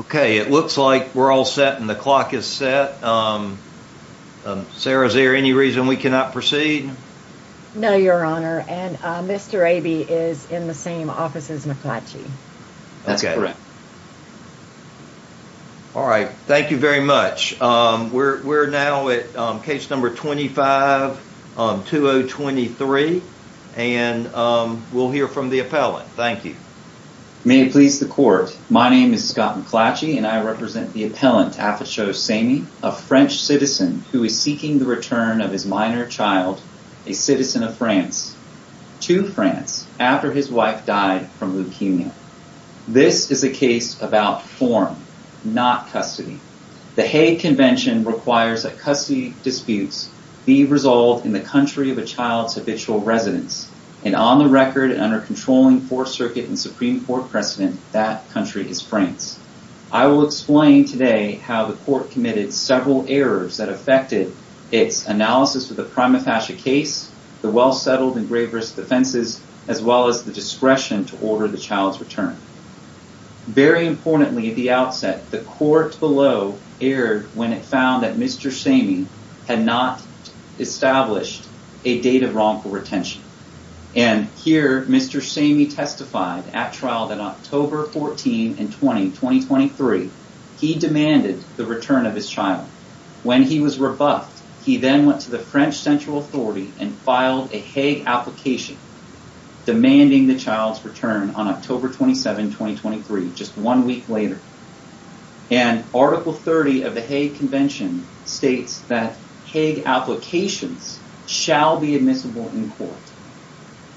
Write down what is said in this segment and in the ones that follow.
Okay, it looks like we're all set and the clock is set. Sarah, is there any reason we cannot proceed? No, Your Honor, and Mr. Abey is in the same office as McClatchy. That's correct. All right, thank you very much. We're now at case number 25-2023, and we'll hear from the appellant. Thank you. May it please the Court, my name is Scott McClatchy, and I represent the appellant Afachao Samey, a French citizen who is seeking the return of his minor child, a citizen of France, to France after his wife died from leukemia. This is a case about form, not custody. The Hague Convention requires that custody disputes be resolved in the country of a child's habitual residence, and on the record and under controlling Fourth Circuit and Supreme Court precedent, that country is France. I will explain today how the Court committed several errors that affected its analysis of the prima facie case, the well-settled and grave risk defenses, as well as the discretion to order the child's return. Very importantly at the outset, the Court below erred when it found that Mr. Samey had not established a date of wrongful retention. And here Mr. Samey testified at trial that October 14 and 20, 2023, he demanded the return of his child. When he was rebuffed, he then went to the French Central Authority and filed a Hague application demanding the child's return on October 27, 2023, just one week later. And Article 30 of the Hague Convention states that Hague applications shall be admissible in court.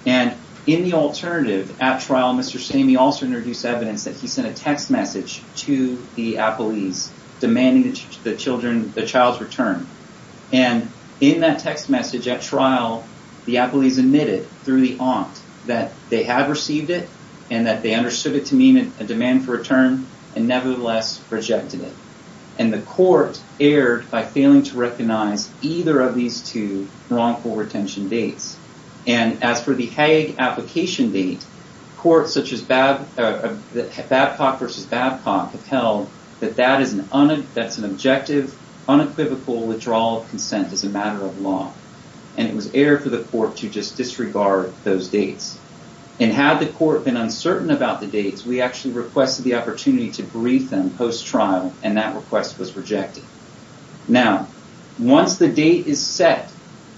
And in the alternative, at trial, Mr. Samey also introduced evidence that he sent a text message to the appellees demanding the child's return. And in that text message at trial, the appellees admitted, through the aunt, that they had received it and that they understood it to mean a demand for return and nevertheless rejected it. And the Court erred by failing to recognize either of these two wrongful retention dates. And as for the Hague application date, courts such as Babcock v. Babcock have held that that's an objective, unequivocal withdrawal of consent as a matter of law. And it was erred for the Court to just disregard those dates. And had the Court been uncertain about the dates, we actually requested the opportunity to brief them post-trial and that request was rejected. Now, once the date is set,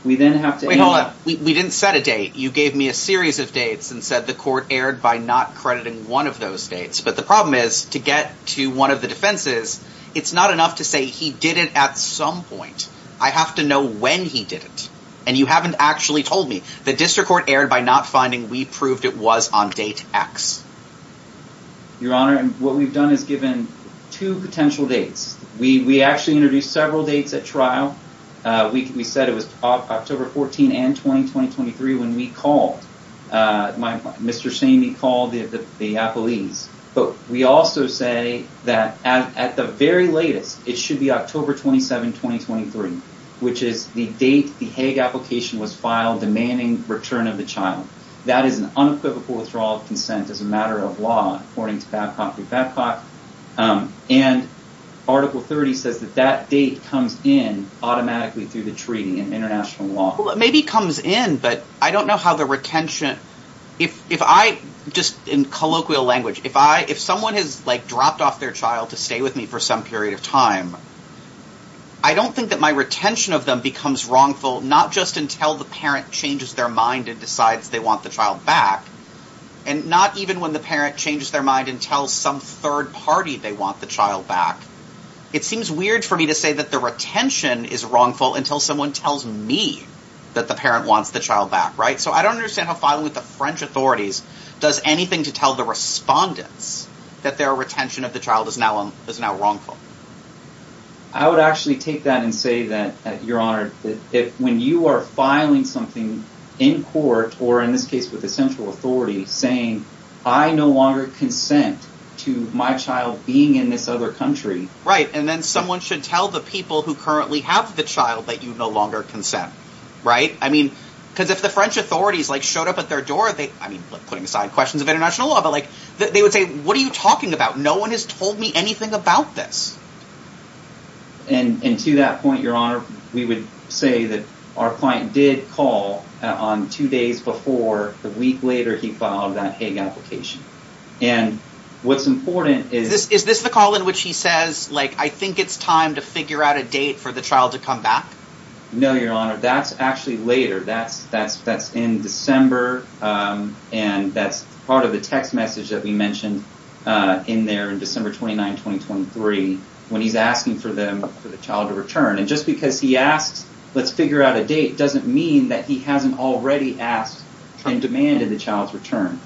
we then have to... Wait, hold on. We didn't set a date. You gave me a series of dates and said the Court erred by not crediting one of those dates. But the problem is, to get to one of the defenses, it's not enough to say he did it at some point. I have to know when he did it. And you haven't actually told me. The District Court erred by not finding we proved it was on date X. Your Honor, what we've done is given two potential dates. We actually introduced several dates at trial. We said it was October 14 and 20, 2023, when we called. Mr. Samey called the appellees. But we also say that at the very latest, it should be October 27, 2023, which is the date the Hague application was filed demanding return of the child. That is an unequivocal withdrawal of consent as a matter of law, according to Babcock v. Babcock. And Article 30 says that that date comes in automatically through the treaty and international law. Well, it maybe comes in, but I don't know how the retention... If I just, in colloquial language, if someone has dropped off their child to stay with me for some period of time, I don't think that my retention of them becomes wrongful not just until the parent changes their mind and decides they want the child back, and not even when the parent changes their mind and tells some third party they want the child back. It seems weird for me to say that the retention is wrongful until someone tells me that the parent wants the child back. So I don't understand how filing with the French authorities does anything to tell the respondents that their retention of the child is now wrongful. I would actually take that and say that, Your Honor, that when you are filing something in court, or in this case with the central authority, saying, I no longer consent to my child being in this other country... Right, and then someone should tell the people who currently have the child that you no longer consent. Right? I mean, because if the French authorities showed up at their door, putting aside questions of international law, they would say, what are you talking about? No one has told me anything about this. And to that point, Your Honor, we would say that our client did call on two days before the week later he filed that Hague application. And what's important is... Is this the call in which he says, like, I think it's time to figure out a date for the child to come back? No, Your Honor, that's actually later. That's in December, and that's part of the text message that we mentioned in there in December 29, 2023, when he's asking for the child to return. And just because he asks, let's figure out a date, doesn't mean that he hasn't already asked and demanded the child's return.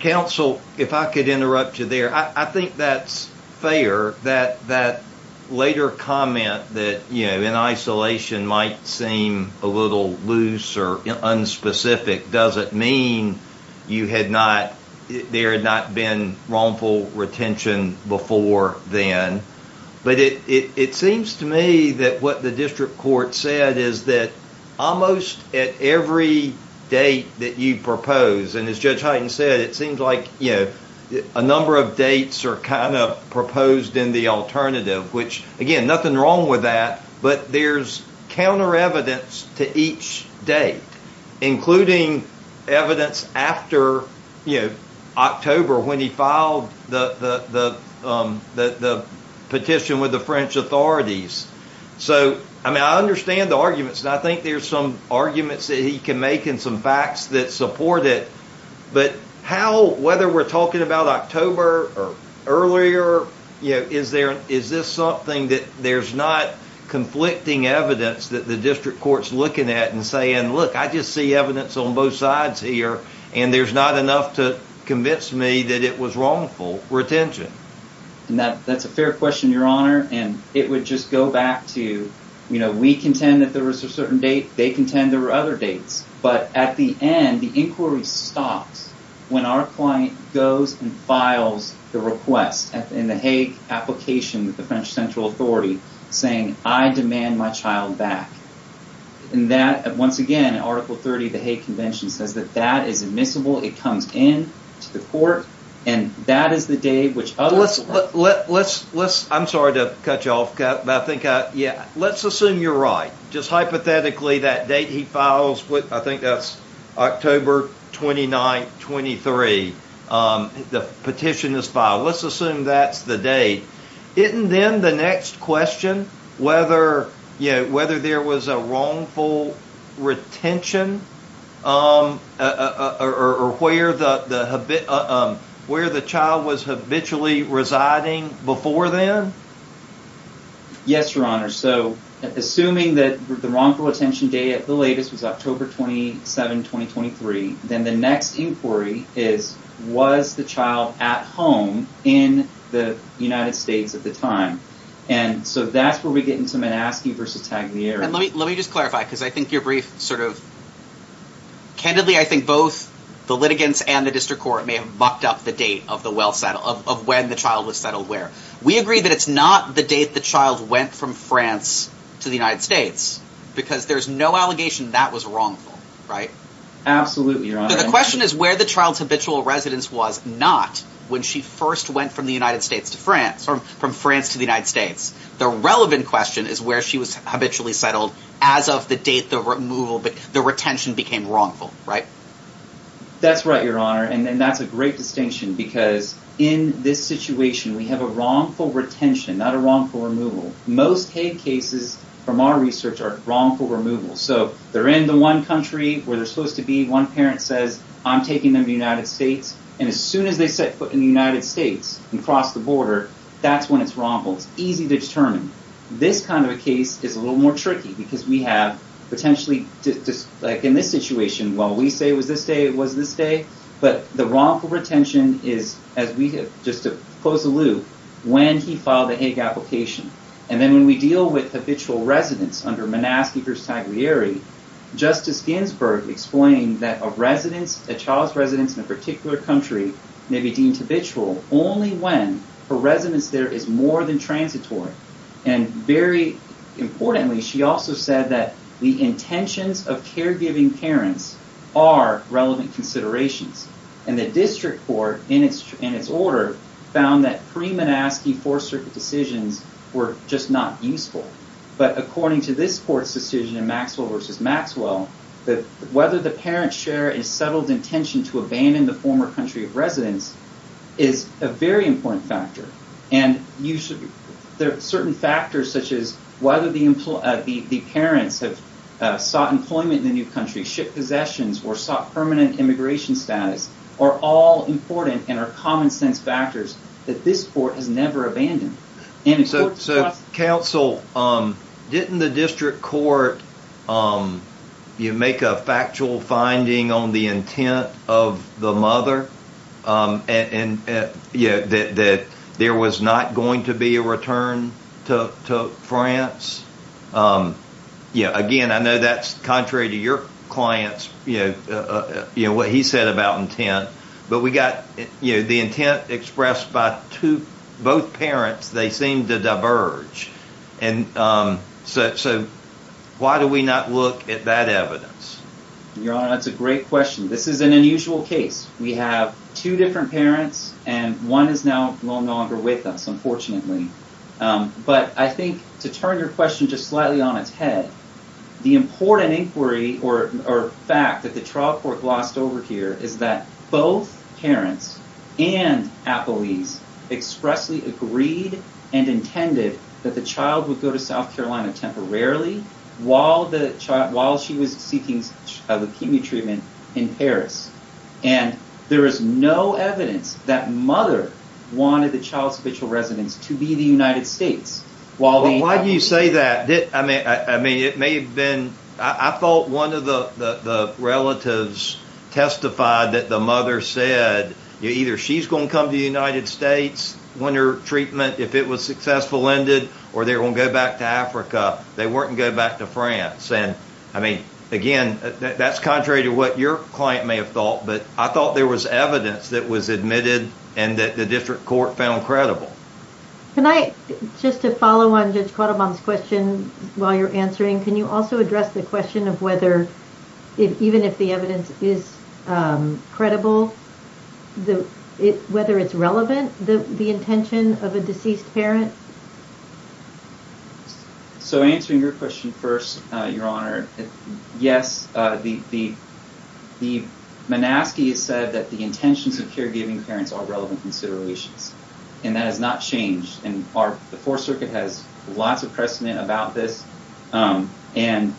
Counsel, if I could interrupt you there, I think that's fair, that later comment that, you know, might seem a little loose or unspecific doesn't mean you had not... there had not been wrongful retention before then. But it seems to me that what the district court said is that almost at every date that you propose, and as Judge Hyten said, it seems like, you know, a number of dates are kind of proposed in the alternative, which, again, nothing wrong with that, but there's counter-evidence to each date, including evidence after, you know, October, when he filed the petition with the French authorities. So, I mean, I understand the arguments, and I think there's some arguments that he can make and some facts that support it, but how, whether we're talking about October or earlier, is this something that there's not conflicting evidence that the district court's looking at and saying, look, I just see evidence on both sides here, and there's not enough to convince me that it was wrongful retention? And that's a fair question, Your Honor, and it would just go back to, you know, we contend that there was a certain date, they contend there were other dates, but at the end, the inquiry stops when our client goes and files the request in the Hague application with the French central authority, saying, I demand my child back. And that, once again, Article 30 of the Hague Convention says that that is admissible, it comes in to the court, and that is the date which others... Let's, let's, let's, I'm sorry to cut you off, but I think, yeah, let's assume you're right. Just hypothetically, that date he files, I think that's October 29th, 23. The petition is filed. Let's assume that's the date. Isn't then the next question whether, you know, whether there was a wrongful retention or where the, where the child was habitually residing before then? Yes, Your Honor. So assuming that the wrongful retention date at the latest was October 27, 2023, then the next inquiry is, was the child at home in the United States at the time? And so that's where we get into Manaski versus Tagliere. And let me, let me just clarify, because I think your brief sort of... Candidly, I think both the litigants and the district court may have mucked up the date of the well settle, of when the child was settled where. We agree that it's not the date the child went from France to the United States, because there's no allegation that was wrongful, right? Absolutely, Your Honor. The question is where the child's habitual residence was not when she first went from the United States to France, or from France to the United States. The relevant question is where she was habitually settled as of the date the removal, the retention became wrongful, right? That's right, Your Honor. And that's a great distinction because in this situation, we have a wrongful retention, not a wrongful removal. Most Hague cases from our research are wrongful removal. So they're in the one country where they're supposed to be. One parent says, I'm taking them to the United States. And as soon as they set foot in the United States and cross the border, that's when it's wrongful. It's easy to determine. This kind of a case is a little more tricky because we have potentially just like in this situation, while we say it was this day, it was this day. But the wrongful retention is as we have, just to close the loop, when he filed the Hague application. And then when we deal with habitual residents under Monaskey v. Taglieri, Justice Ginsburg explained that a child's residence in a particular country may be deemed habitual only when a residence there is more than transitory. And very importantly, she also said that the intentions of caregiving parents are relevant considerations. And the district court, in its order, found that pre-Monaskey Fourth Circuit decisions were just not useful. But according to this court's decision in Maxwell v. Maxwell, whether the parent's share is settled intention to abandon the former country of residence is a very important factor. And there are certain factors, such as whether the parents have sought employment in the new country, shipped possessions, or sought permanent immigration status, are all important and are common sense factors that this court has never abandoned. So counsel, didn't the district court make a factual finding on the intent of the mother and that there was not going to be a return to France? Yeah, again, I know that's contrary to your client's, what he said about intent. But we got the intent expressed by both parents. They seemed to diverge. And so why do we not look at that evidence? Your Honor, that's a great question. This is an unusual case. We have two different parents. And one is now no longer with us, unfortunately. But I think to turn your question just slightly on its head, the important inquiry or fact that the trial court glossed over here is that both parents and appellees expressly agreed and intended that the child would go to South Carolina temporarily while she was seeking leukemia treatment in Paris. And there is no evidence that mother wanted the child's habitual residence to be the United States. Why do you say that? I mean, it may have been, I thought one of the relatives testified that the mother said, either she's going to come to the United States when her treatment, if it was successful, ended, or they were going to go back to Africa. They weren't going to go back to France. And I mean, again, that's contrary to what your client may have thought. But I thought there was evidence that was admitted and that the district court found credible. Can I, just to follow on Judge Quattlebaum's question while you're answering, can you also address the question of whether, even if the evidence is credible, whether it's relevant, the intention of a deceased parent? So answering your question first, Your Honor, yes, the Menaski has said that the intentions of caregiving parents are relevant considerations. And that has not changed. And the Fourth Circuit has lots of precedent about this. And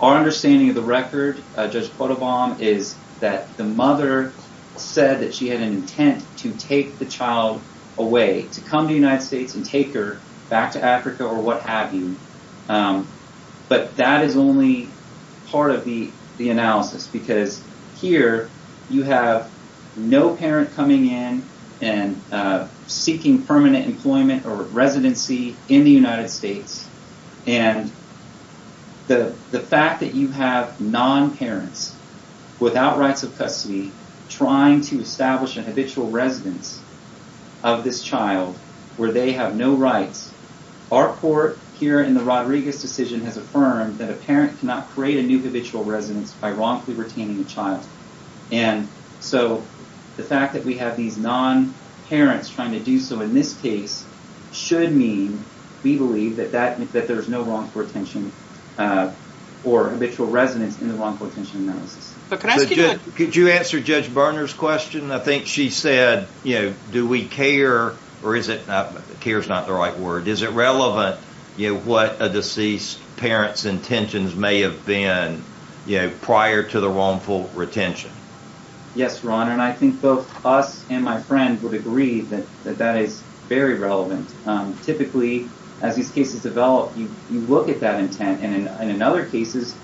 our understanding of the record, Judge Quattlebaum, is that the mother said that she had an intent to take the child away, to come to the United States and take her back to Africa or what have you. But that is only part of the analysis. Because here, you have no parent coming in and seeking permanent employment or residency in the United States. And the fact that you have non-parents without rights of custody trying to establish an habitual residence of this child, where they have no rights, our court here in the Rodriguez decision has affirmed that a parent cannot create a new habitual residence by wrongfully retaining a child. And so the fact that we have these non-parents trying to do so in this case should mean we believe that there is no wrongful retention or habitual residence in the wrongful retention analysis. But could I ask you to... Could you answer Judge Berner's question? I think she said, you know, do we care or is it... Care is not the right word. Is it relevant what a deceased parent's intentions may have been, you know, prior to the wrongful retention? Yes, Ron. And I think both us and my friend would agree that that is very relevant. Typically, as these cases develop, you look at that intent. And in other cases,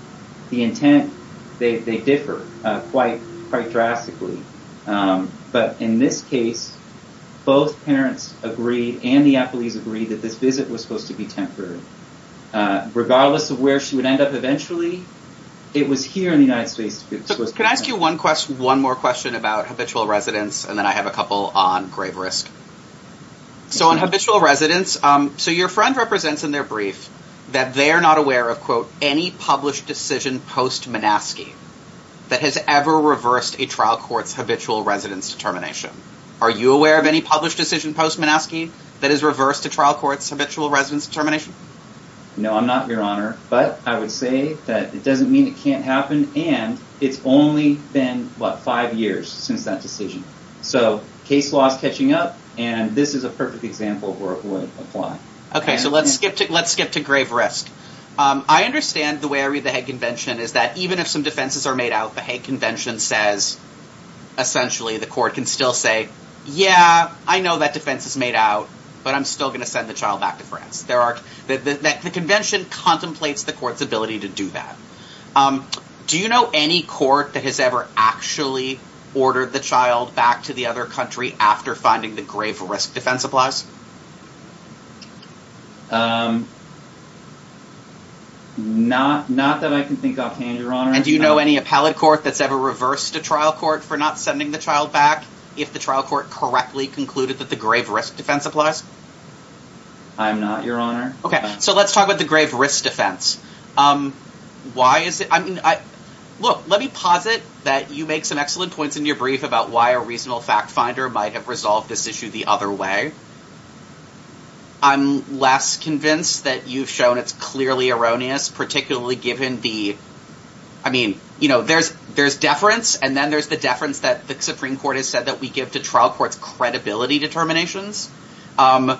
the intent, they differ quite drastically. But in this case, both parents agreed, and the appellees agreed, that this visit was supposed to be temporary. Regardless of where she would end up eventually, it was here in the United States. Can I ask you one more question about habitual residence, and then I have a couple on grave risk. So on habitual residence, so your friend represents in their brief that they are not aware of, quote, any published decision post-Menaski that has ever reversed a trial court's habitual residence determination. Are you aware of any published decision post-Menaski that has reversed a trial court's habitual residence determination? No, I'm not, Your Honor. But I would say that it doesn't mean it can't happen, and it's only been, what, five years since that decision. So case law is catching up, and this is a perfect example where it would apply. Okay, so let's skip to grave risk. I understand the way I read the Hague Convention is that even if some defenses are made out, the Hague Convention says, essentially, the court can still say, yeah, I know that defense is made out, but I'm still going to send the child back to France. The convention contemplates the court's ability to do that. Do you know any court that has ever actually ordered the child back to the other country after finding the grave risk defense applies? Not that I can think offhand, Your Honor. And do you know any appellate court that's ever reversed a trial court for not sending the child back if the trial court correctly concluded that the grave risk defense applies? I'm not, Your Honor. Okay, so let's talk about the grave risk defense. Why is it? Look, let me posit that you make some excellent points in your brief about why a reasonable fact finder might have resolved this issue the other way. I'm less convinced that you've shown it's clearly erroneous, particularly given the... I mean, there's deference, and then there's the deference that the Supreme Court has said that we give to trial courts' credibility determinations. And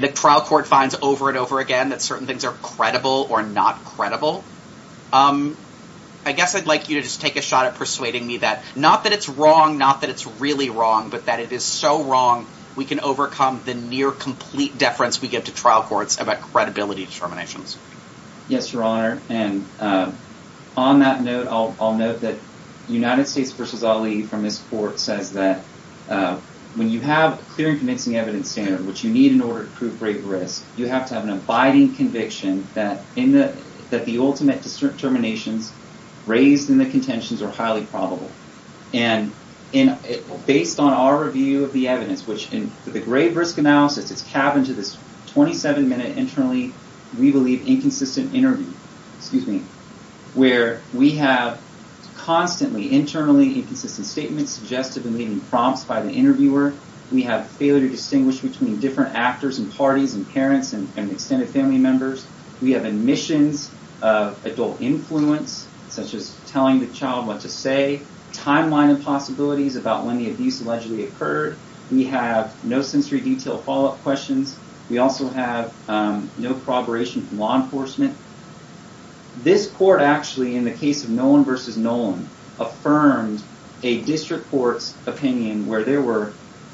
the trial court finds over and over again that certain things are credible or not credible. I guess I'd like you to just take a shot at persuading me that not that it's wrong, not that it's really wrong, but that it is so wrong we can overcome the near-complete deference we give to trial courts about credibility determinations. Yes, Your Honor. And on that note, I'll note that United States v. Ali from his court says that when you have a clear and convincing evidence standard, which you need in order to prove grave risk, you have to have an abiding conviction that the ultimate determinations raised in the contentions are highly probable. And based on our review of the evidence, which in the grave risk analysis, it's calved into this 27-minute internally, we believe, inconsistent interview, excuse me, where we have constantly internally inconsistent statements suggested and leaving prompts by the interviewer. We have failure to distinguish between different actors and parties and parents and extended family members. We have omissions of adult influence, such as telling the child what to say, timeline of possibilities about when the abuse allegedly occurred. We have no sensory detail follow-up questions. We also have no corroboration from law enforcement. This court actually, in the case of Nolan v. Nolan, affirmed a district court's opinion where there were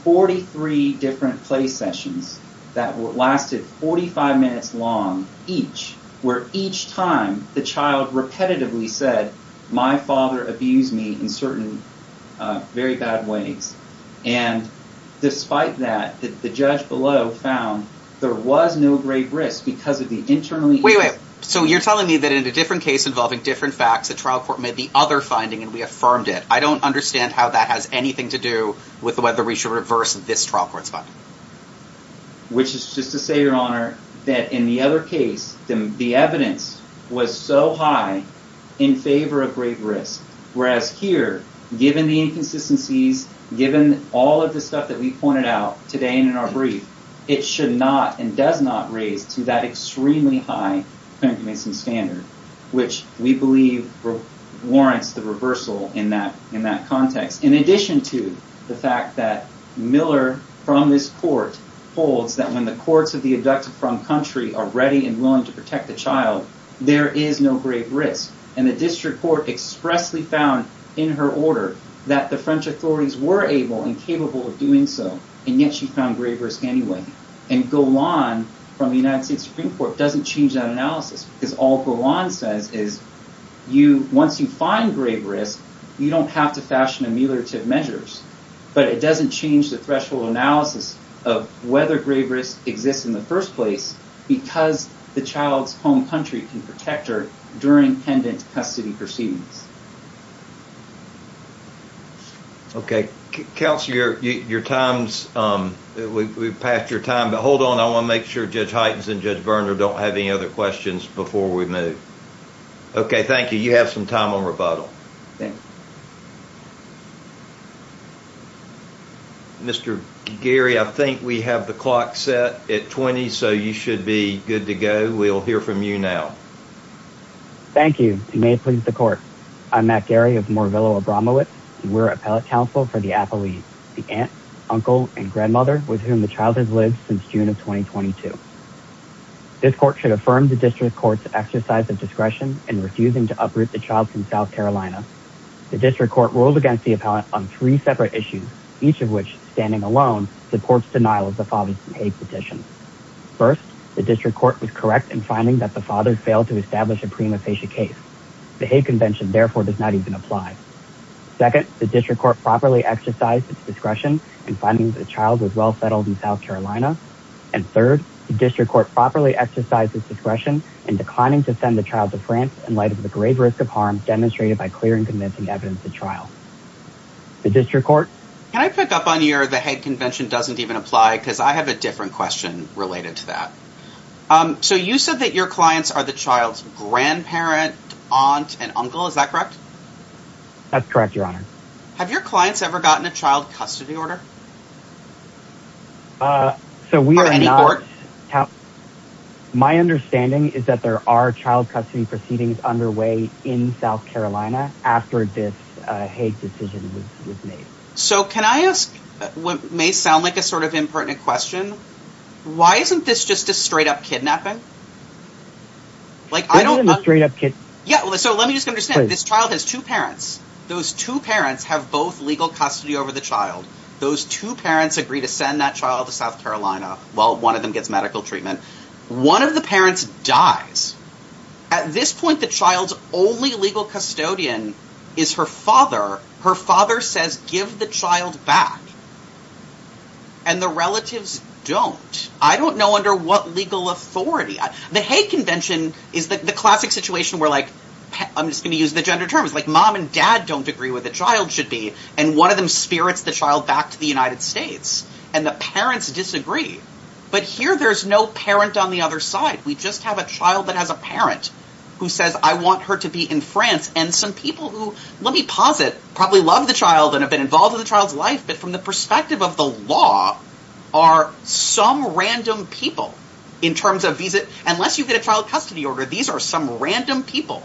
43 different play sessions that lasted 45 minutes long each, where each time the child repetitively said, my father abused me in certain very bad ways. And despite that, the judge below found there was no grave risk because of the internally Wait, wait. So you're telling me that in a different case involving different facts, the trial court made the other finding and we affirmed it. I don't understand how that has anything to do with whether we should reverse this trial court's finding. Which is just to say, Your Honor, that in the other case, the evidence was so high in favor of grave risk. Whereas here, given the inconsistencies, given all of the stuff that we pointed out today and in our brief, it should not and does not raise to that extremely high condemnation standard, which we believe warrants the reversal in that context. In addition to the fact that Miller from this court holds that when the courts of the abducted from country are ready and willing to protect the child, there is no grave risk. And the district court expressly found in her order that the French authorities were able and capable of doing so. And yet she found grave risk anyway. And Golan from the United States Supreme Court doesn't change that analysis because all Golan says is, once you find grave risk, you don't have to fashion ameliorative measures. But it doesn't change the threshold analysis of whether grave risk exists in the first place because the child's home country can protect her during pendant custody proceedings. Okay. Counselor, your time's we've passed your time, but hold on. I want to make sure Judge Heitens and Judge Berner don't have any other questions before we move. Okay. Thank you. You have some time on rebuttal. Mr. Gary, I think we have the clock set at 20, so you should be good to go. We'll hear from you now. Thank you. You may please the court. I'm Matt Gary of Morvillo Abramowitz. We're appellate counsel for the appellees, the aunt, uncle and grandmother with whom the child has lived since June of 2022. This court should affirm the district court's exercise of discretion in refusing to uproot the child from South Carolina. The district court ruled against the appellate on three separate issues, each of which standing alone supports denial of the father's hate petition. First, the district court was correct in finding that the father failed to establish a prima facie case. The hate convention, therefore, does not even apply. Second, the district court properly exercised its discretion in finding that the child was well settled in South Carolina. And third, the district court properly exercised its discretion in declining to send the child to France in light of the grave risk of harm demonstrated by clear and convincing evidence to trial. The district court. Can I pick up on your the hate convention doesn't even apply because I have a different question related to that. So you said that your clients are the child's grandparent, aunt and uncle. Is that correct? That's correct, your honor. Have your clients ever gotten a child custody order? So we are not. My understanding is that there are child custody proceedings underway in South Carolina after this hate decision was made. So can I ask what may sound like a sort of impertinent question? Why isn't this just a straight up kidnapping? Straight up kidnapping. Yeah. So let me just understand this child has two parents. Those two parents have both legal custody over the child. Those two parents agree to send that child to South Carolina while one of them gets medical treatment. One of the parents dies. At this point, the child's only legal custodian is her father. Her father says give the child back. And the relatives don't. I don't know under what legal authority. The hate convention is the classic situation where like I'm just going to use the gender terms like mom and dad don't agree with the child should be. And one of them spirits the child back to the United States and the parents disagree. But here there's no parent on the other side. We just have a child that has a parent who says I want her to be in France. And some people who let me posit probably love the child and have been involved in the child's life. But from the perspective of the law are some random people in terms of visa. Unless you get a child custody order. These are some random people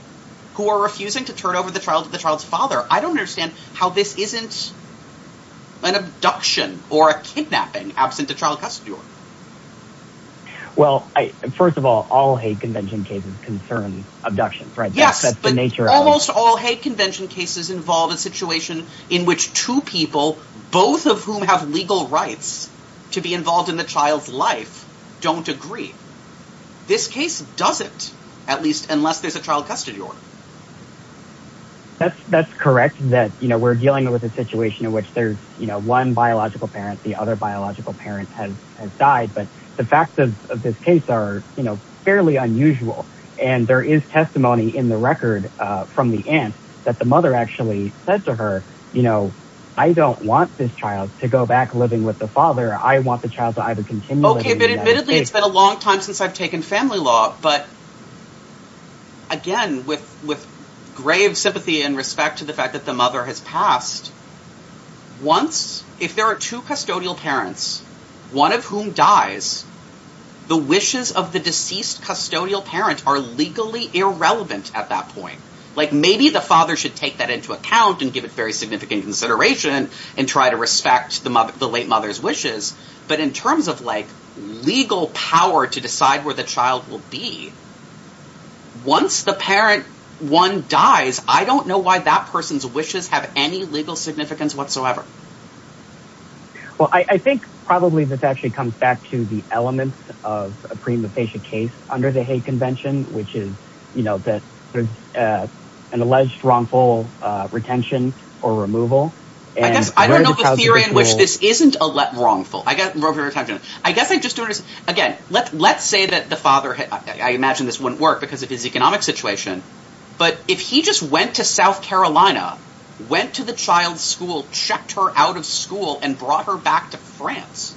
who are refusing to turn over the child to the child's father. I don't understand how this isn't an abduction or a kidnapping absent a child custody order. Well, first of all, all hate convention cases concern abductions, right? Yes, but almost all hate convention cases involve a situation in which two people both of whom have legal rights to be involved in the child's life don't agree. This case doesn't at least unless there's a child custody order. That's correct that we're dealing with a situation in which there's one biological parent. The other biological parent has died. But the facts of this case are fairly unusual. And there is testimony in the record from the end that the mother actually said to her, you know, I don't want this child to go back living with the father. I want the child to either continue. Okay, but admittedly, it's been a long time since I've taken family law. But again, with grave sympathy and respect to the fact that the mother has passed once if there are two custodial parents, one of whom dies, the wishes of the deceased custodial parent are legally irrelevant at that point. Like maybe the father should take that into account and give it very significant consideration and try to respect the late mother's wishes. But in terms of like legal power to decide where the child will be, once the parent one dies, I don't know why that person's wishes have any legal significance whatsoever. Well, I think probably this actually comes back to the elements of a pre-mutation case under the hate convention, which is, you know, that there's an alleged wrongful retention or removal. I guess I don't know the theory in which this isn't a wrongful retention. Again, let's say that the father I imagine this wouldn't work because of his economic situation but if he just went to South Carolina went to the child's school, checked her out of school and brought her back to France,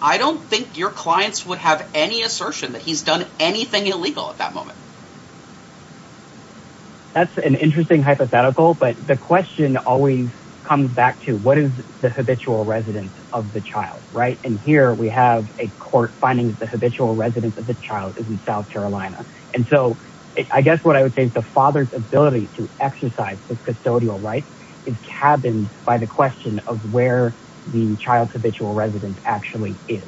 I don't think your clients would have any assertion that he's done anything illegal at that moment. That's an interesting hypothetical, but the question always comes back to what is the habitual residence of the child, right? And here we have a court finding that the habitual residence of the child is in South Carolina. And so, I guess what I would say is the father's ability to exercise the custodial rights is cabined by the question of where the child's habitual residence actually is.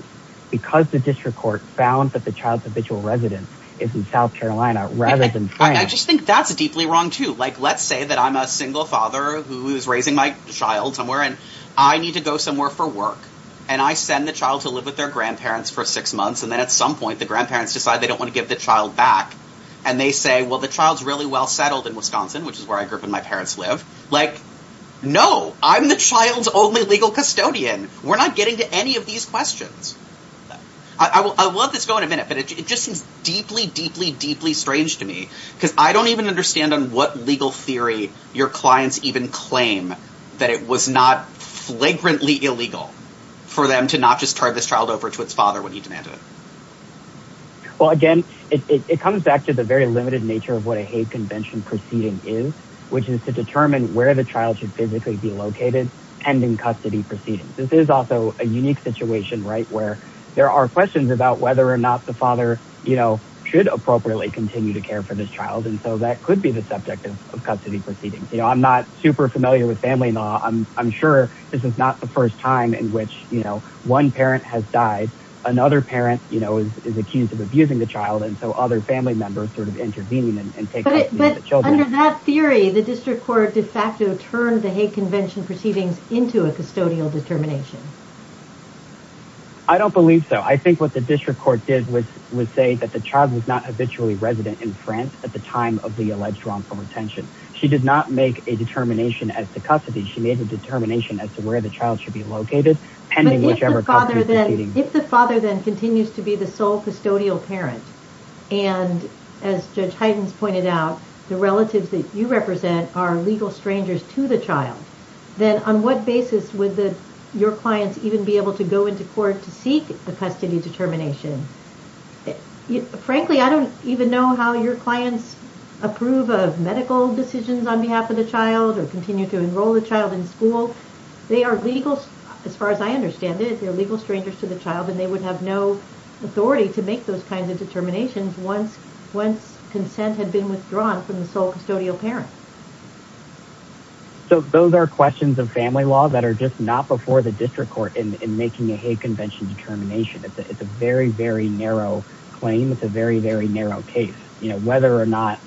Because the district court found that the child's habitual residence is in South Carolina rather than France... I just think that's deeply wrong too. Like, let's say that I'm a single father who is raising my child somewhere and I need to go somewhere for work and I send the child to live with their grandparents for six months and then at some point the grandparents decide they don't want to give the child back and they say, well, the child's really well settled in Wisconsin, which is where I grew up and my parents live. Like, no! I'm the child's only legal custodian. We're not getting to any of these questions. I will let this go in a minute, but it just seems deeply, deeply, deeply strange to me because I don't even understand on what legal theory your clients even claim that it was not flagrantly illegal for them to not just turn this child over to its father when he demanded it. Again, it comes back to the very limited nature of what a hate convention proceeding is, which is to determine where the child should physically be located and in custody proceedings. This is also a unique situation, right, where there are questions about whether or not the father should appropriately continue to care for this child and so that could be the subject of custody proceedings. I'm not super familiar with family law. I'm sure this is not the first time in which one parent has died, another parent is accused of abusing the child, and so other family members sort of intervene and take custody of the children. But under that theory, the district court de facto turned the hate convention proceedings into a custodial determination. I don't believe so. I think what the district court did was say that the child was not habitually resident in France at the time of the alleged wrongful retention. She did not make a determination as to custody. She made a determination as to where the child should be located. If the father then continues to be the sole custodial parent, and as Judge Heidens pointed out, the relatives that you represent are legal strangers to the child, then on what basis would your clients even be able to go into court to seek a custody determination? Frankly, I don't even know how your clients approve of medical decisions on behalf of the child or continue to enroll the child in school. As far as I understand it, they're legal strangers to the child and they would have no authority to make those kinds of determinations once consent had been withdrawn from the sole custodial parent. So those are questions of family law that are just not before the district court in making a Hague Convention determination. It's a very, very narrow claim. It's a very, very narrow case. Whether or not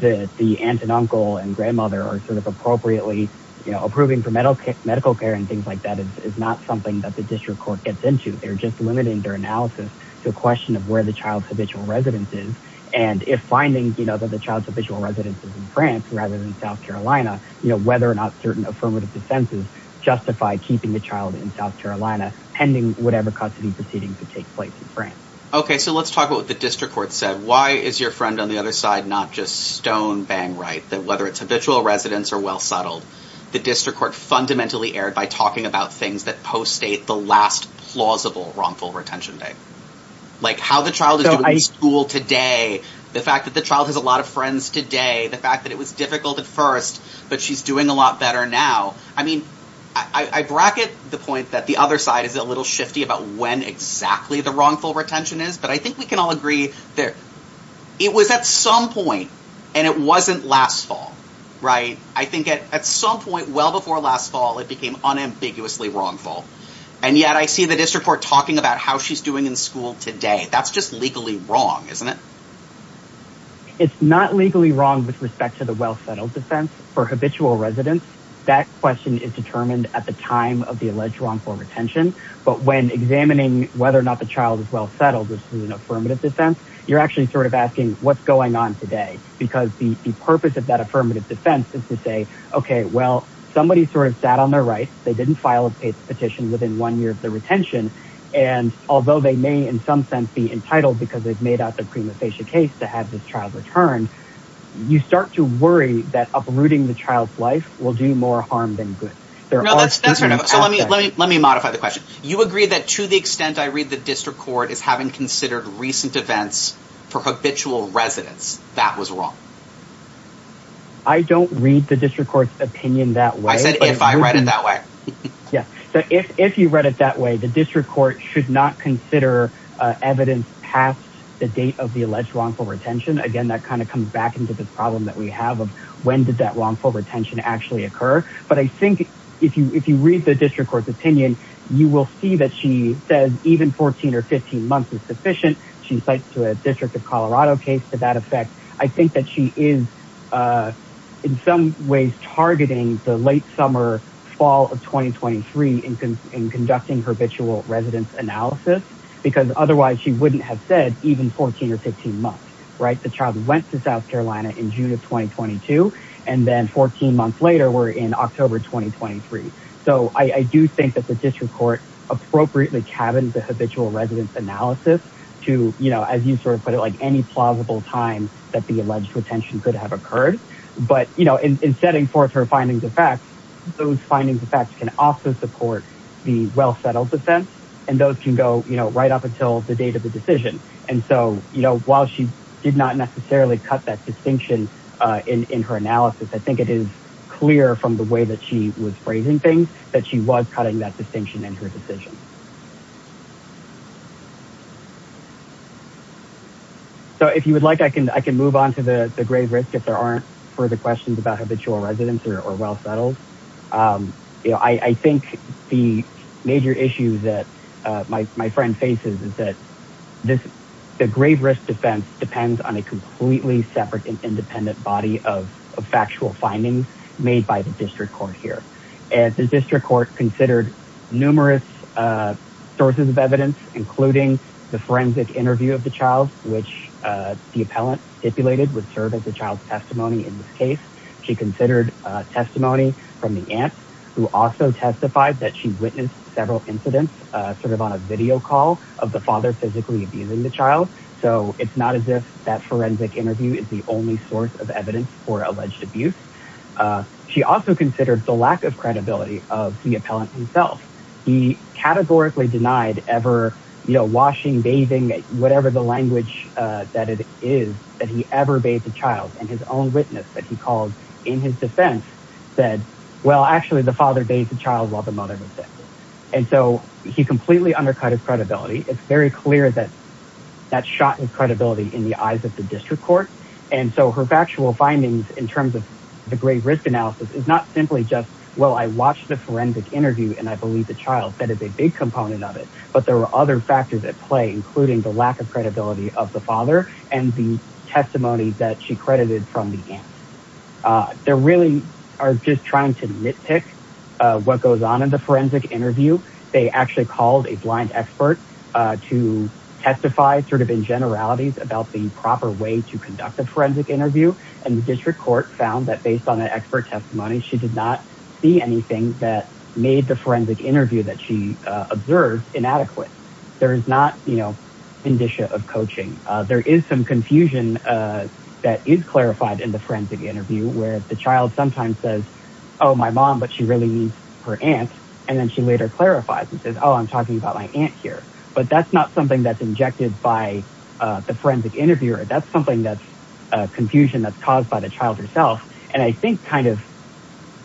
the aunt and uncle and grandmother are appropriately approving for medical care and things like that is not something that the district court gets into. They're just limiting their analysis to a question of where the child's habitual residence is. And if finding that the child's habitual residence is in France rather than South Carolina, whether or not certain affirmative defenses justify keeping the child in South Carolina pending whatever custody proceedings would take place in France. So let's talk about what the district court said. Why is your friend on the other side not just stone-bang right that whether it's habitual residence or well-settled, the district court fundamentally erred by talking about things that post-date the last plausible wrongful retention day. Like how the child is doing in school today. The fact that the child has a lot of friends today. The fact that it was difficult at first, but she's doing a lot better now. I mean, I bracket the point that the other side is a little shifty about when exactly the wrongful retention is. But I think we can all agree that it was at some point and it wasn't last fall. Right. I think at some point, well before last fall, it became unambiguously wrongful. And yet I see the district court talking about how she's in school today. That's just legally wrong. Isn't it? It's not legally wrong with respect to the well-settled defense for habitual residence. That question is determined at the time of the alleged wrongful retention. But when examining whether or not the child is well-settled, which is an affirmative defense, you're actually sort of asking what's going on today because the purpose of that affirmative defense is to say, okay, well somebody sort of sat on their right. They didn't file a petition within one year of the retention. And although they may in some sense be entitled because they've made out the prima facie case to have this child returned, you start to worry that uprooting the child's life will do more harm than good. So let me modify the question. You agree that to the extent I read the district court as having considered recent events for habitual residence, that was wrong? I don't read the district court's opinion that way. I said if I read it that way. If you read it that way, the district court should not consider evidence past the date of the alleged wrongful retention. Again, that kind of comes back into the problem that we have of when did that wrongful retention actually occur? But I think if you read the district court's opinion, you will see that she says even 14 or 15 months is sufficient. She cites a District of Colorado case to that effect. I think that she is in some ways targeting the late summer fall of 2023 in conducting habitual residence analysis because otherwise she wouldn't have said even 14 or 15 months. The child went to South Carolina in June of 2022 and then 14 months later we're in October 2023. So I do think that the district court appropriately cabins the habitual residence analysis to, as you put it, any plausible time that the alleged retention could have occurred. But in setting forth her findings of facts, those findings of facts can also support the well-settled defense and those can go right up until the date of the decision. And so while she did not necessarily cut that distinction in her analysis, I think it is clear from the way that she was phrasing things that she was cutting that distinction in her decision. So if you would like, I can move on to the grave risk if there aren't further questions about habitual residence or well-settled. I think the major issue that my friend faces is that the grave risk defense depends on a completely separate and independent body of factual findings made by the district court here. And the district court considered numerous sources of evidence, including the forensic interview of the child, which the appellant stipulated would serve as the child's testimony in this case. She considered testimony from the aunt who also testified that she witnessed several incidents sort of on a video call of the father physically abusing the child. So it's not as if that forensic interview is the only source of evidence for alleged abuse. She also considered the lack of credibility of the appellant himself. He categorically denied ever washing, bathing, whatever the language that it is that he ever bathed the child. And his own witness that he called in his defense said, well, actually the father bathed the child while the mother was sick. And so he completely undercut his credibility. It's very clear that that shot his credibility in the eyes of the district court. And so her factual findings in terms of the grade risk analysis is not simply just, well, I watched the forensic interview and I believe the child. That is a big component of it. But there were other factors at play, including the lack of credibility of the father and the testimony that she credited from the aunt. They really are just trying to nitpick what goes on in the forensic interview. They actually called a blind expert to testify sort of in generalities about the proper way to conduct the forensic interview. And the district court found that based on the expert testimony, she did not see anything that made the forensic interview that she observed inadequate. There is not, you know, condition of coaching. There is some confusion that is clarified in the forensic interview where the child sometimes says, oh, my mom, but she really means her aunt. And then she later clarifies and says, oh, I'm talking about my aunt here. But that's not something that's injected by the forensic interviewer. That's something that's confusion that's caused by the child herself. And I think kind of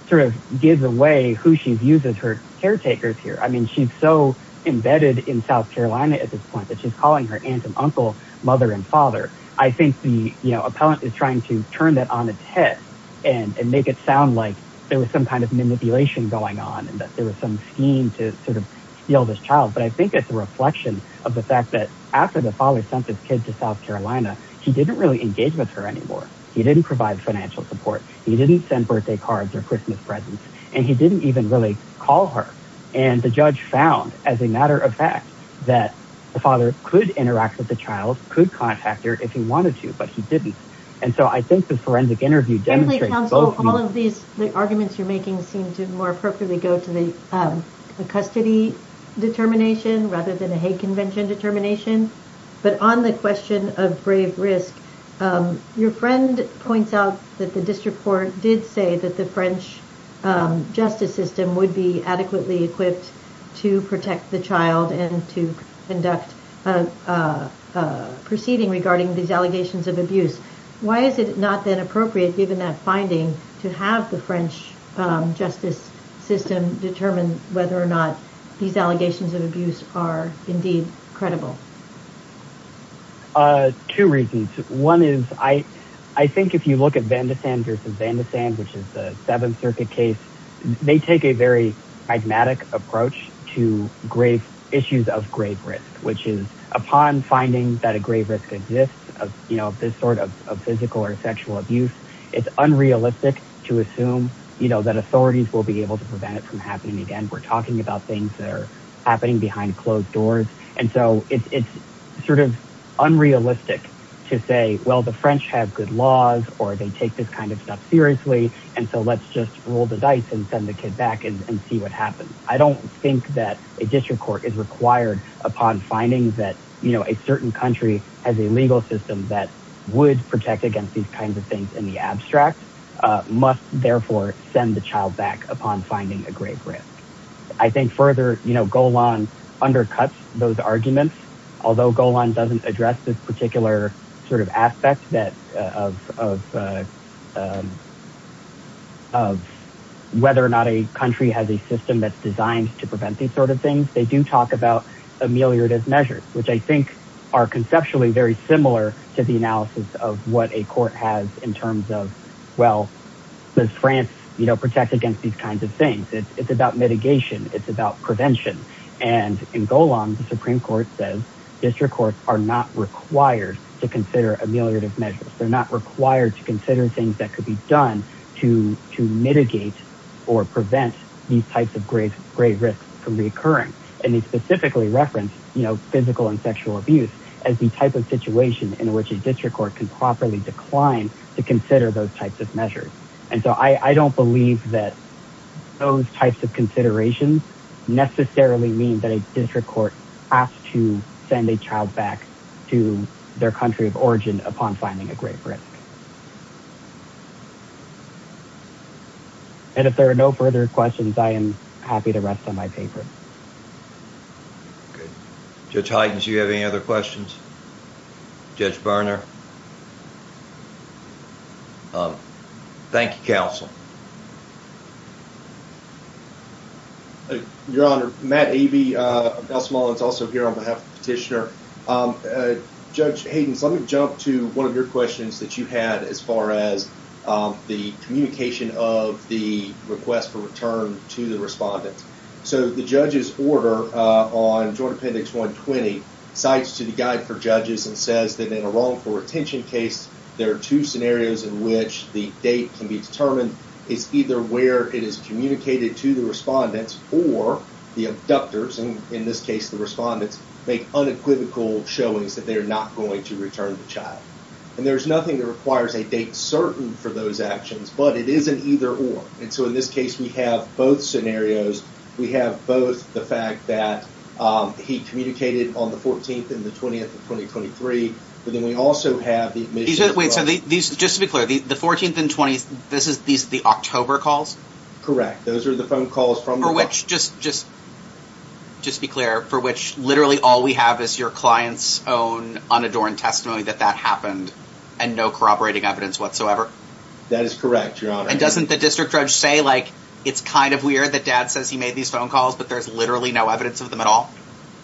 sort of gives away who she views as her caretaker here. I mean, she's so embedded in South Carolina at this point that she's calling her aunt and uncle mother and father. I think the appellant is trying to turn that on its head and make it sound like there was some kind of manipulation going on and that there was some scheme to sort of steal this child. But I think it's a reflection of the fact that after the father sent his kid to South Carolina, he didn't really engage with her anymore. He didn't provide financial support. He didn't send birthday cards or Christmas presents. And he didn't even really call her. And the judge found as a matter of fact that the father could interact with the child, could contact her if he wanted to, but he didn't. And so I think the forensic interview demonstrates all of these arguments you're making seem to more appropriately go to the custody determination rather than a hate convention determination. But on the question of brave risk, your friend points out that the district court did say that the French justice system would be adequately equipped to protect the child and to conduct a proceeding regarding these allegations of abuse. Why is it not then appropriate, given that finding, to have the French justice system determine whether or not these allegations of abuse are indeed credible? Two reasons. One is, I think if you look at Van de Sand versus Van de Sand, which is the Seventh Circuit case, they take a very pragmatic approach to grave issues of grave risk, which is upon finding that a grave risk exists of this sort of physical or sexual abuse. It's unrealistic to assume that authorities will be able to prevent it from happening again. We're talking about things that are happening behind closed doors. And so it's sort of unrealistic to say, well, the French have good laws or they take this kind of stuff seriously. And so let's just roll the dice and send the kid back and see what happens. I don't think that a district court is required upon finding that a certain country has a legal system that would protect against these kinds of things in the abstract, must therefore send the child back upon finding a grave risk. I think further, you know, Golan undercuts those arguments, although Golan doesn't address this particular sort of aspect that of whether or not a country has a system that's designed to prevent these sort of things. They do talk about ameliorative measures, which I think are conceptually very similar to the analysis of what a court has in terms of, well, does France, you know, protect against these kinds of things? It's about mitigation. It's about prevention. And in Golan, the Supreme Court says district courts are not required to consider ameliorative measures. They're not required to consider things that could be done to mitigate or prevent these types of grave risks from reoccurring. And they specifically reference, you know, physical and sexual abuse as the type of situation in which a district court can properly decline to consider those types of measures. And so I don't believe that those types of considerations necessarily mean that a district court has to send a child back to their country of origin upon finding a grave risk. And if there are no further questions, I am happy to rest on my paper. Judge Heidens, do you have any other questions? Judge Berner? Thank you, counsel. Your Honor, Matt Avey, Nelson Mullins, also here on behalf of the petitioner. Judge Heidens, let me jump to one of your questions that you had as far as the communication of the request for return to the respondent. So the judge's order on Joint Appendix 120 cites to the Guide for Judges and says that in a wrongful retention case, there are two scenarios in which the date can be determined. It's either where it is communicated to the respondent or the abductors, and in this case the respondent, make unequivocal showings that they are not going to return the child. And there is nothing that requires a date certain for those actions, but it is an either or. And so in this case, we have both scenarios. We have both the fact that he communicated on the 14th and the 20th of 2023, but then we also have the admission of... Just to be clear, the 14th and 20th, these are the October calls? Correct. Those are the phone calls from the... For which, just be clear, for which literally all we have is your client's own unadorned testimony that that happened and no corroborating evidence whatsoever? That is correct, Your Honor. And doesn't the district judge say, like, it's kind of weird that dad says he made these phone calls, but there's literally no evidence of them at all?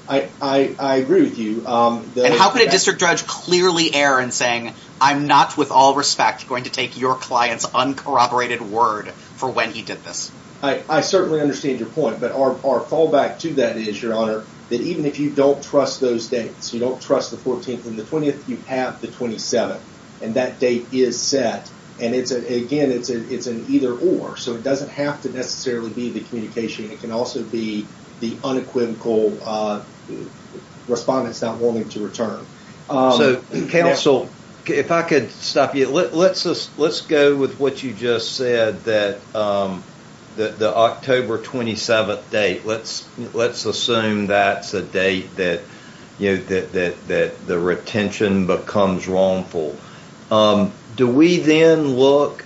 I agree with you. And how could a district judge clearly err in saying, I'm not with all respect going to take your client's uncorroborated word for when he did this? I certainly understand your point, but our fallback to that is, Your Honor, that even if you don't trust those dates, you don't trust the 14th and the 20th, you have the 27th. And that date is set. And again, it's an either or. So it doesn't have to necessarily be the communication. It can also be the unequivocal respondent's not willing to return. So, counsel, if I could stop you, let's go with what you just said that the October 27th date, let's assume that's a date that the retention becomes wrongful. Do we then look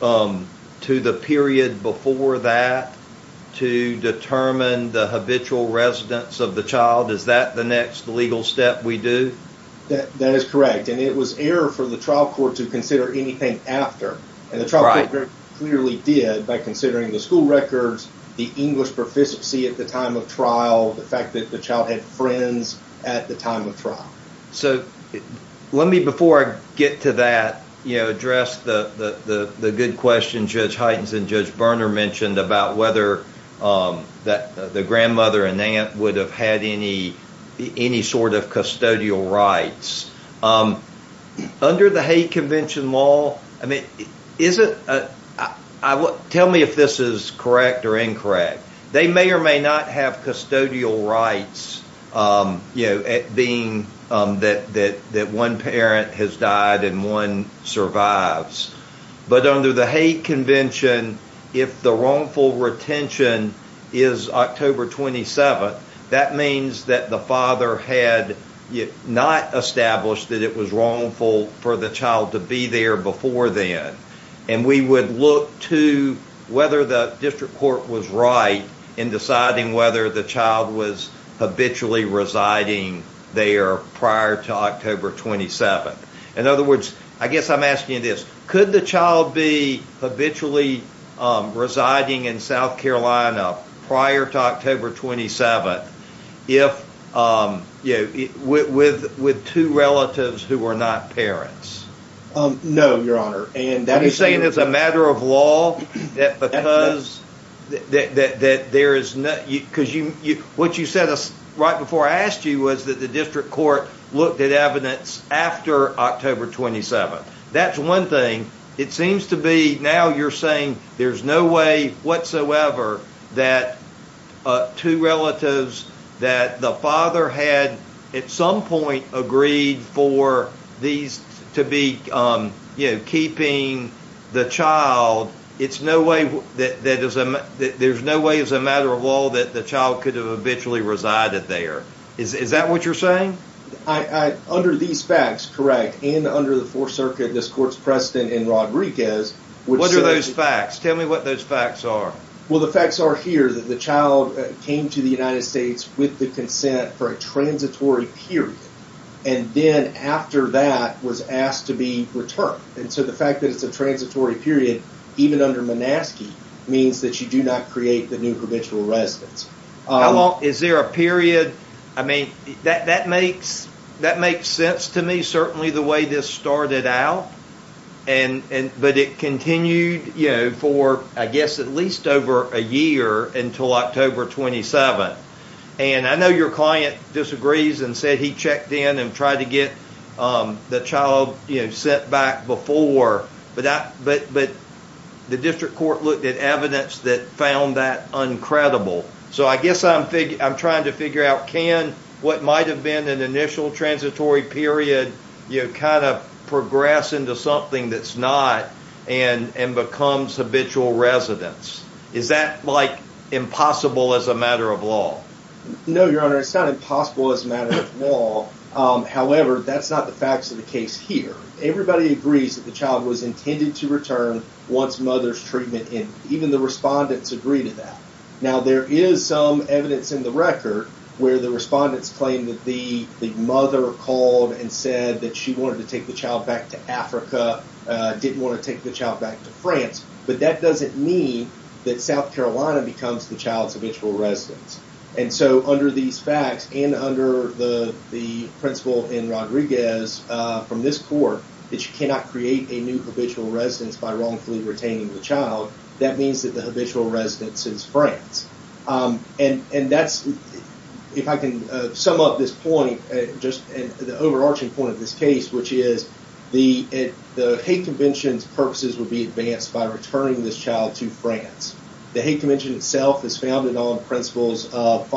to the period before that to determine the habitual residence of the child? Is that the next legal step we do? That is correct. And it was error for the trial court to consider anything after. And the trial court very clearly did by considering the school records, the English proficiency at the time of trial, the fact that the child had friends at the time of trial. So let me, before I get to that, address the good question Judge Heitens and Judge Berner mentioned about whether the grandmother and aunt would have had any sort of custodial rights. Under the hate convention law, tell me if this is correct or incorrect. They may or may not have custodial rights being that one parent has died and one survives. But under the hate convention, if the wrongful retention is October 27th, that means that the father had not established that it was wrongful for the child to be there before then. And we would look to whether the district court was right in deciding whether the child was habitually residing there prior to October 27th. In other words, I guess I'm asking this. Could the child be habitually residing in South Carolina prior to October 27th with two relatives who were not parents? No, Your Honor. I'm saying it's a matter of law because what you said right before I asked you was that the district court looked at evidence after October 27th. That's one thing. It seems to be now you're saying there's no way whatsoever that two relatives that the father had at some point agreed for these to be keeping the child. It's no way that there's no way as a matter of law that the child could have habitually resided there. Is that what you're saying? Under these facts, correct, and under the Fourth Circuit, this court's precedent in Rodriguez What are those facts? Tell me what those facts are. The facts are here that the child came to the United States with the consent for a transitory period and then after that was asked to be returned. The fact that it's a transitory period even under Monaskey means that you do not create the new provincial residence. Is there a period? That makes sense to me, certainly the way this started out, but it continued for at least over a year until October 27th. I know your client disagrees and said he checked in and tried to get the child sent back before but the district court looked at evidence that found that uncredible. I guess I'm trying to figure out what might have been an initial transitory period kind of progress into something that's not and becomes habitual residence. Is that like impossible as a matter of law? No, your honor, it's not impossible as a matter of law. However, that's not the facts of the case here. Everybody agrees that the child was intended to return once mother's treatment and even the respondents agree to that. Now there is some evidence in the record where the respondents claim that the mother called and said that she wanted to take the child back to Africa, didn't want to take the child back to France, but that doesn't mean that South Carolina becomes the child's habitual residence. And so under these facts and under the principle in Rodriguez from this court, that you cannot create a new habitual residence by wrongfully retaining the child, that means that the habitual residence is France. And that's, if I can sum up this point, just the overarching point of this case, which is the hate convention's purposes would be advanced by returning this child to France. The hate convention itself is founded on principles of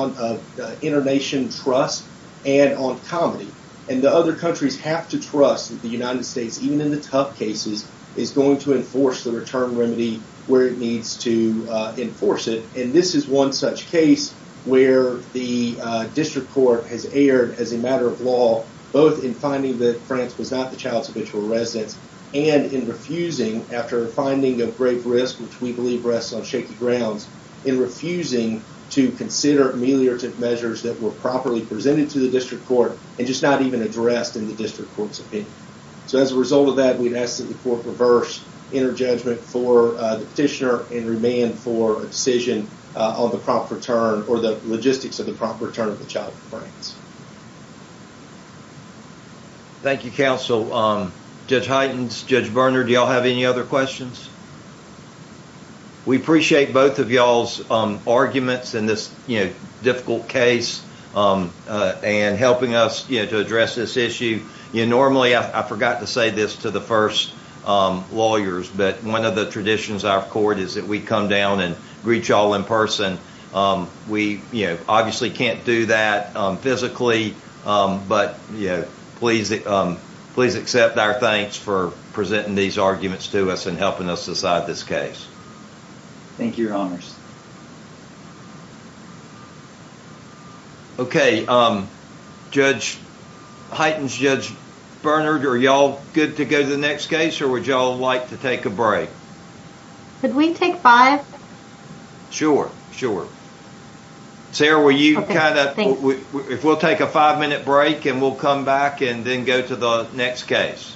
internation trust and on comedy. And the other countries have to trust that the United States, even in the tough cases, is going to enforce the return remedy where it needs to enforce it. And this is one such case where the district court has erred as a matter of law, both in finding that France was not the child's habitual residence and in refusing, after finding of grave risk, which we believe rests on shaky grounds, in refusing to consider ameliorative measures that were properly presented to the district court and just not even addressed in the district court's opinion. So as a result of that, we'd ask that the court reverse interjudgment for the petitioner and remand for a decision on the prompt return or the logistics of the prompt return of the child to France. Thank you, counsel. Judge Heitens, Judge Berner, do you all have any other questions? We appreciate both of y'all's arguments in this difficult case and helping us to address this issue. Normally, I forgot to say this to the first lawyers, but one of the traditions of our court is that we come down and greet y'all in person. We obviously can't do that physically, but please accept our thanks for presenting these arguments to us and helping us decide this case. Thank you, your honors. Okay, Judge Heitens, Judge Berner, do you want to take the next case or would y'all like to take a break? Could we take five? Sure, sure. Sarah, if we'll take a five-minute break and we'll come back and then go to the next case.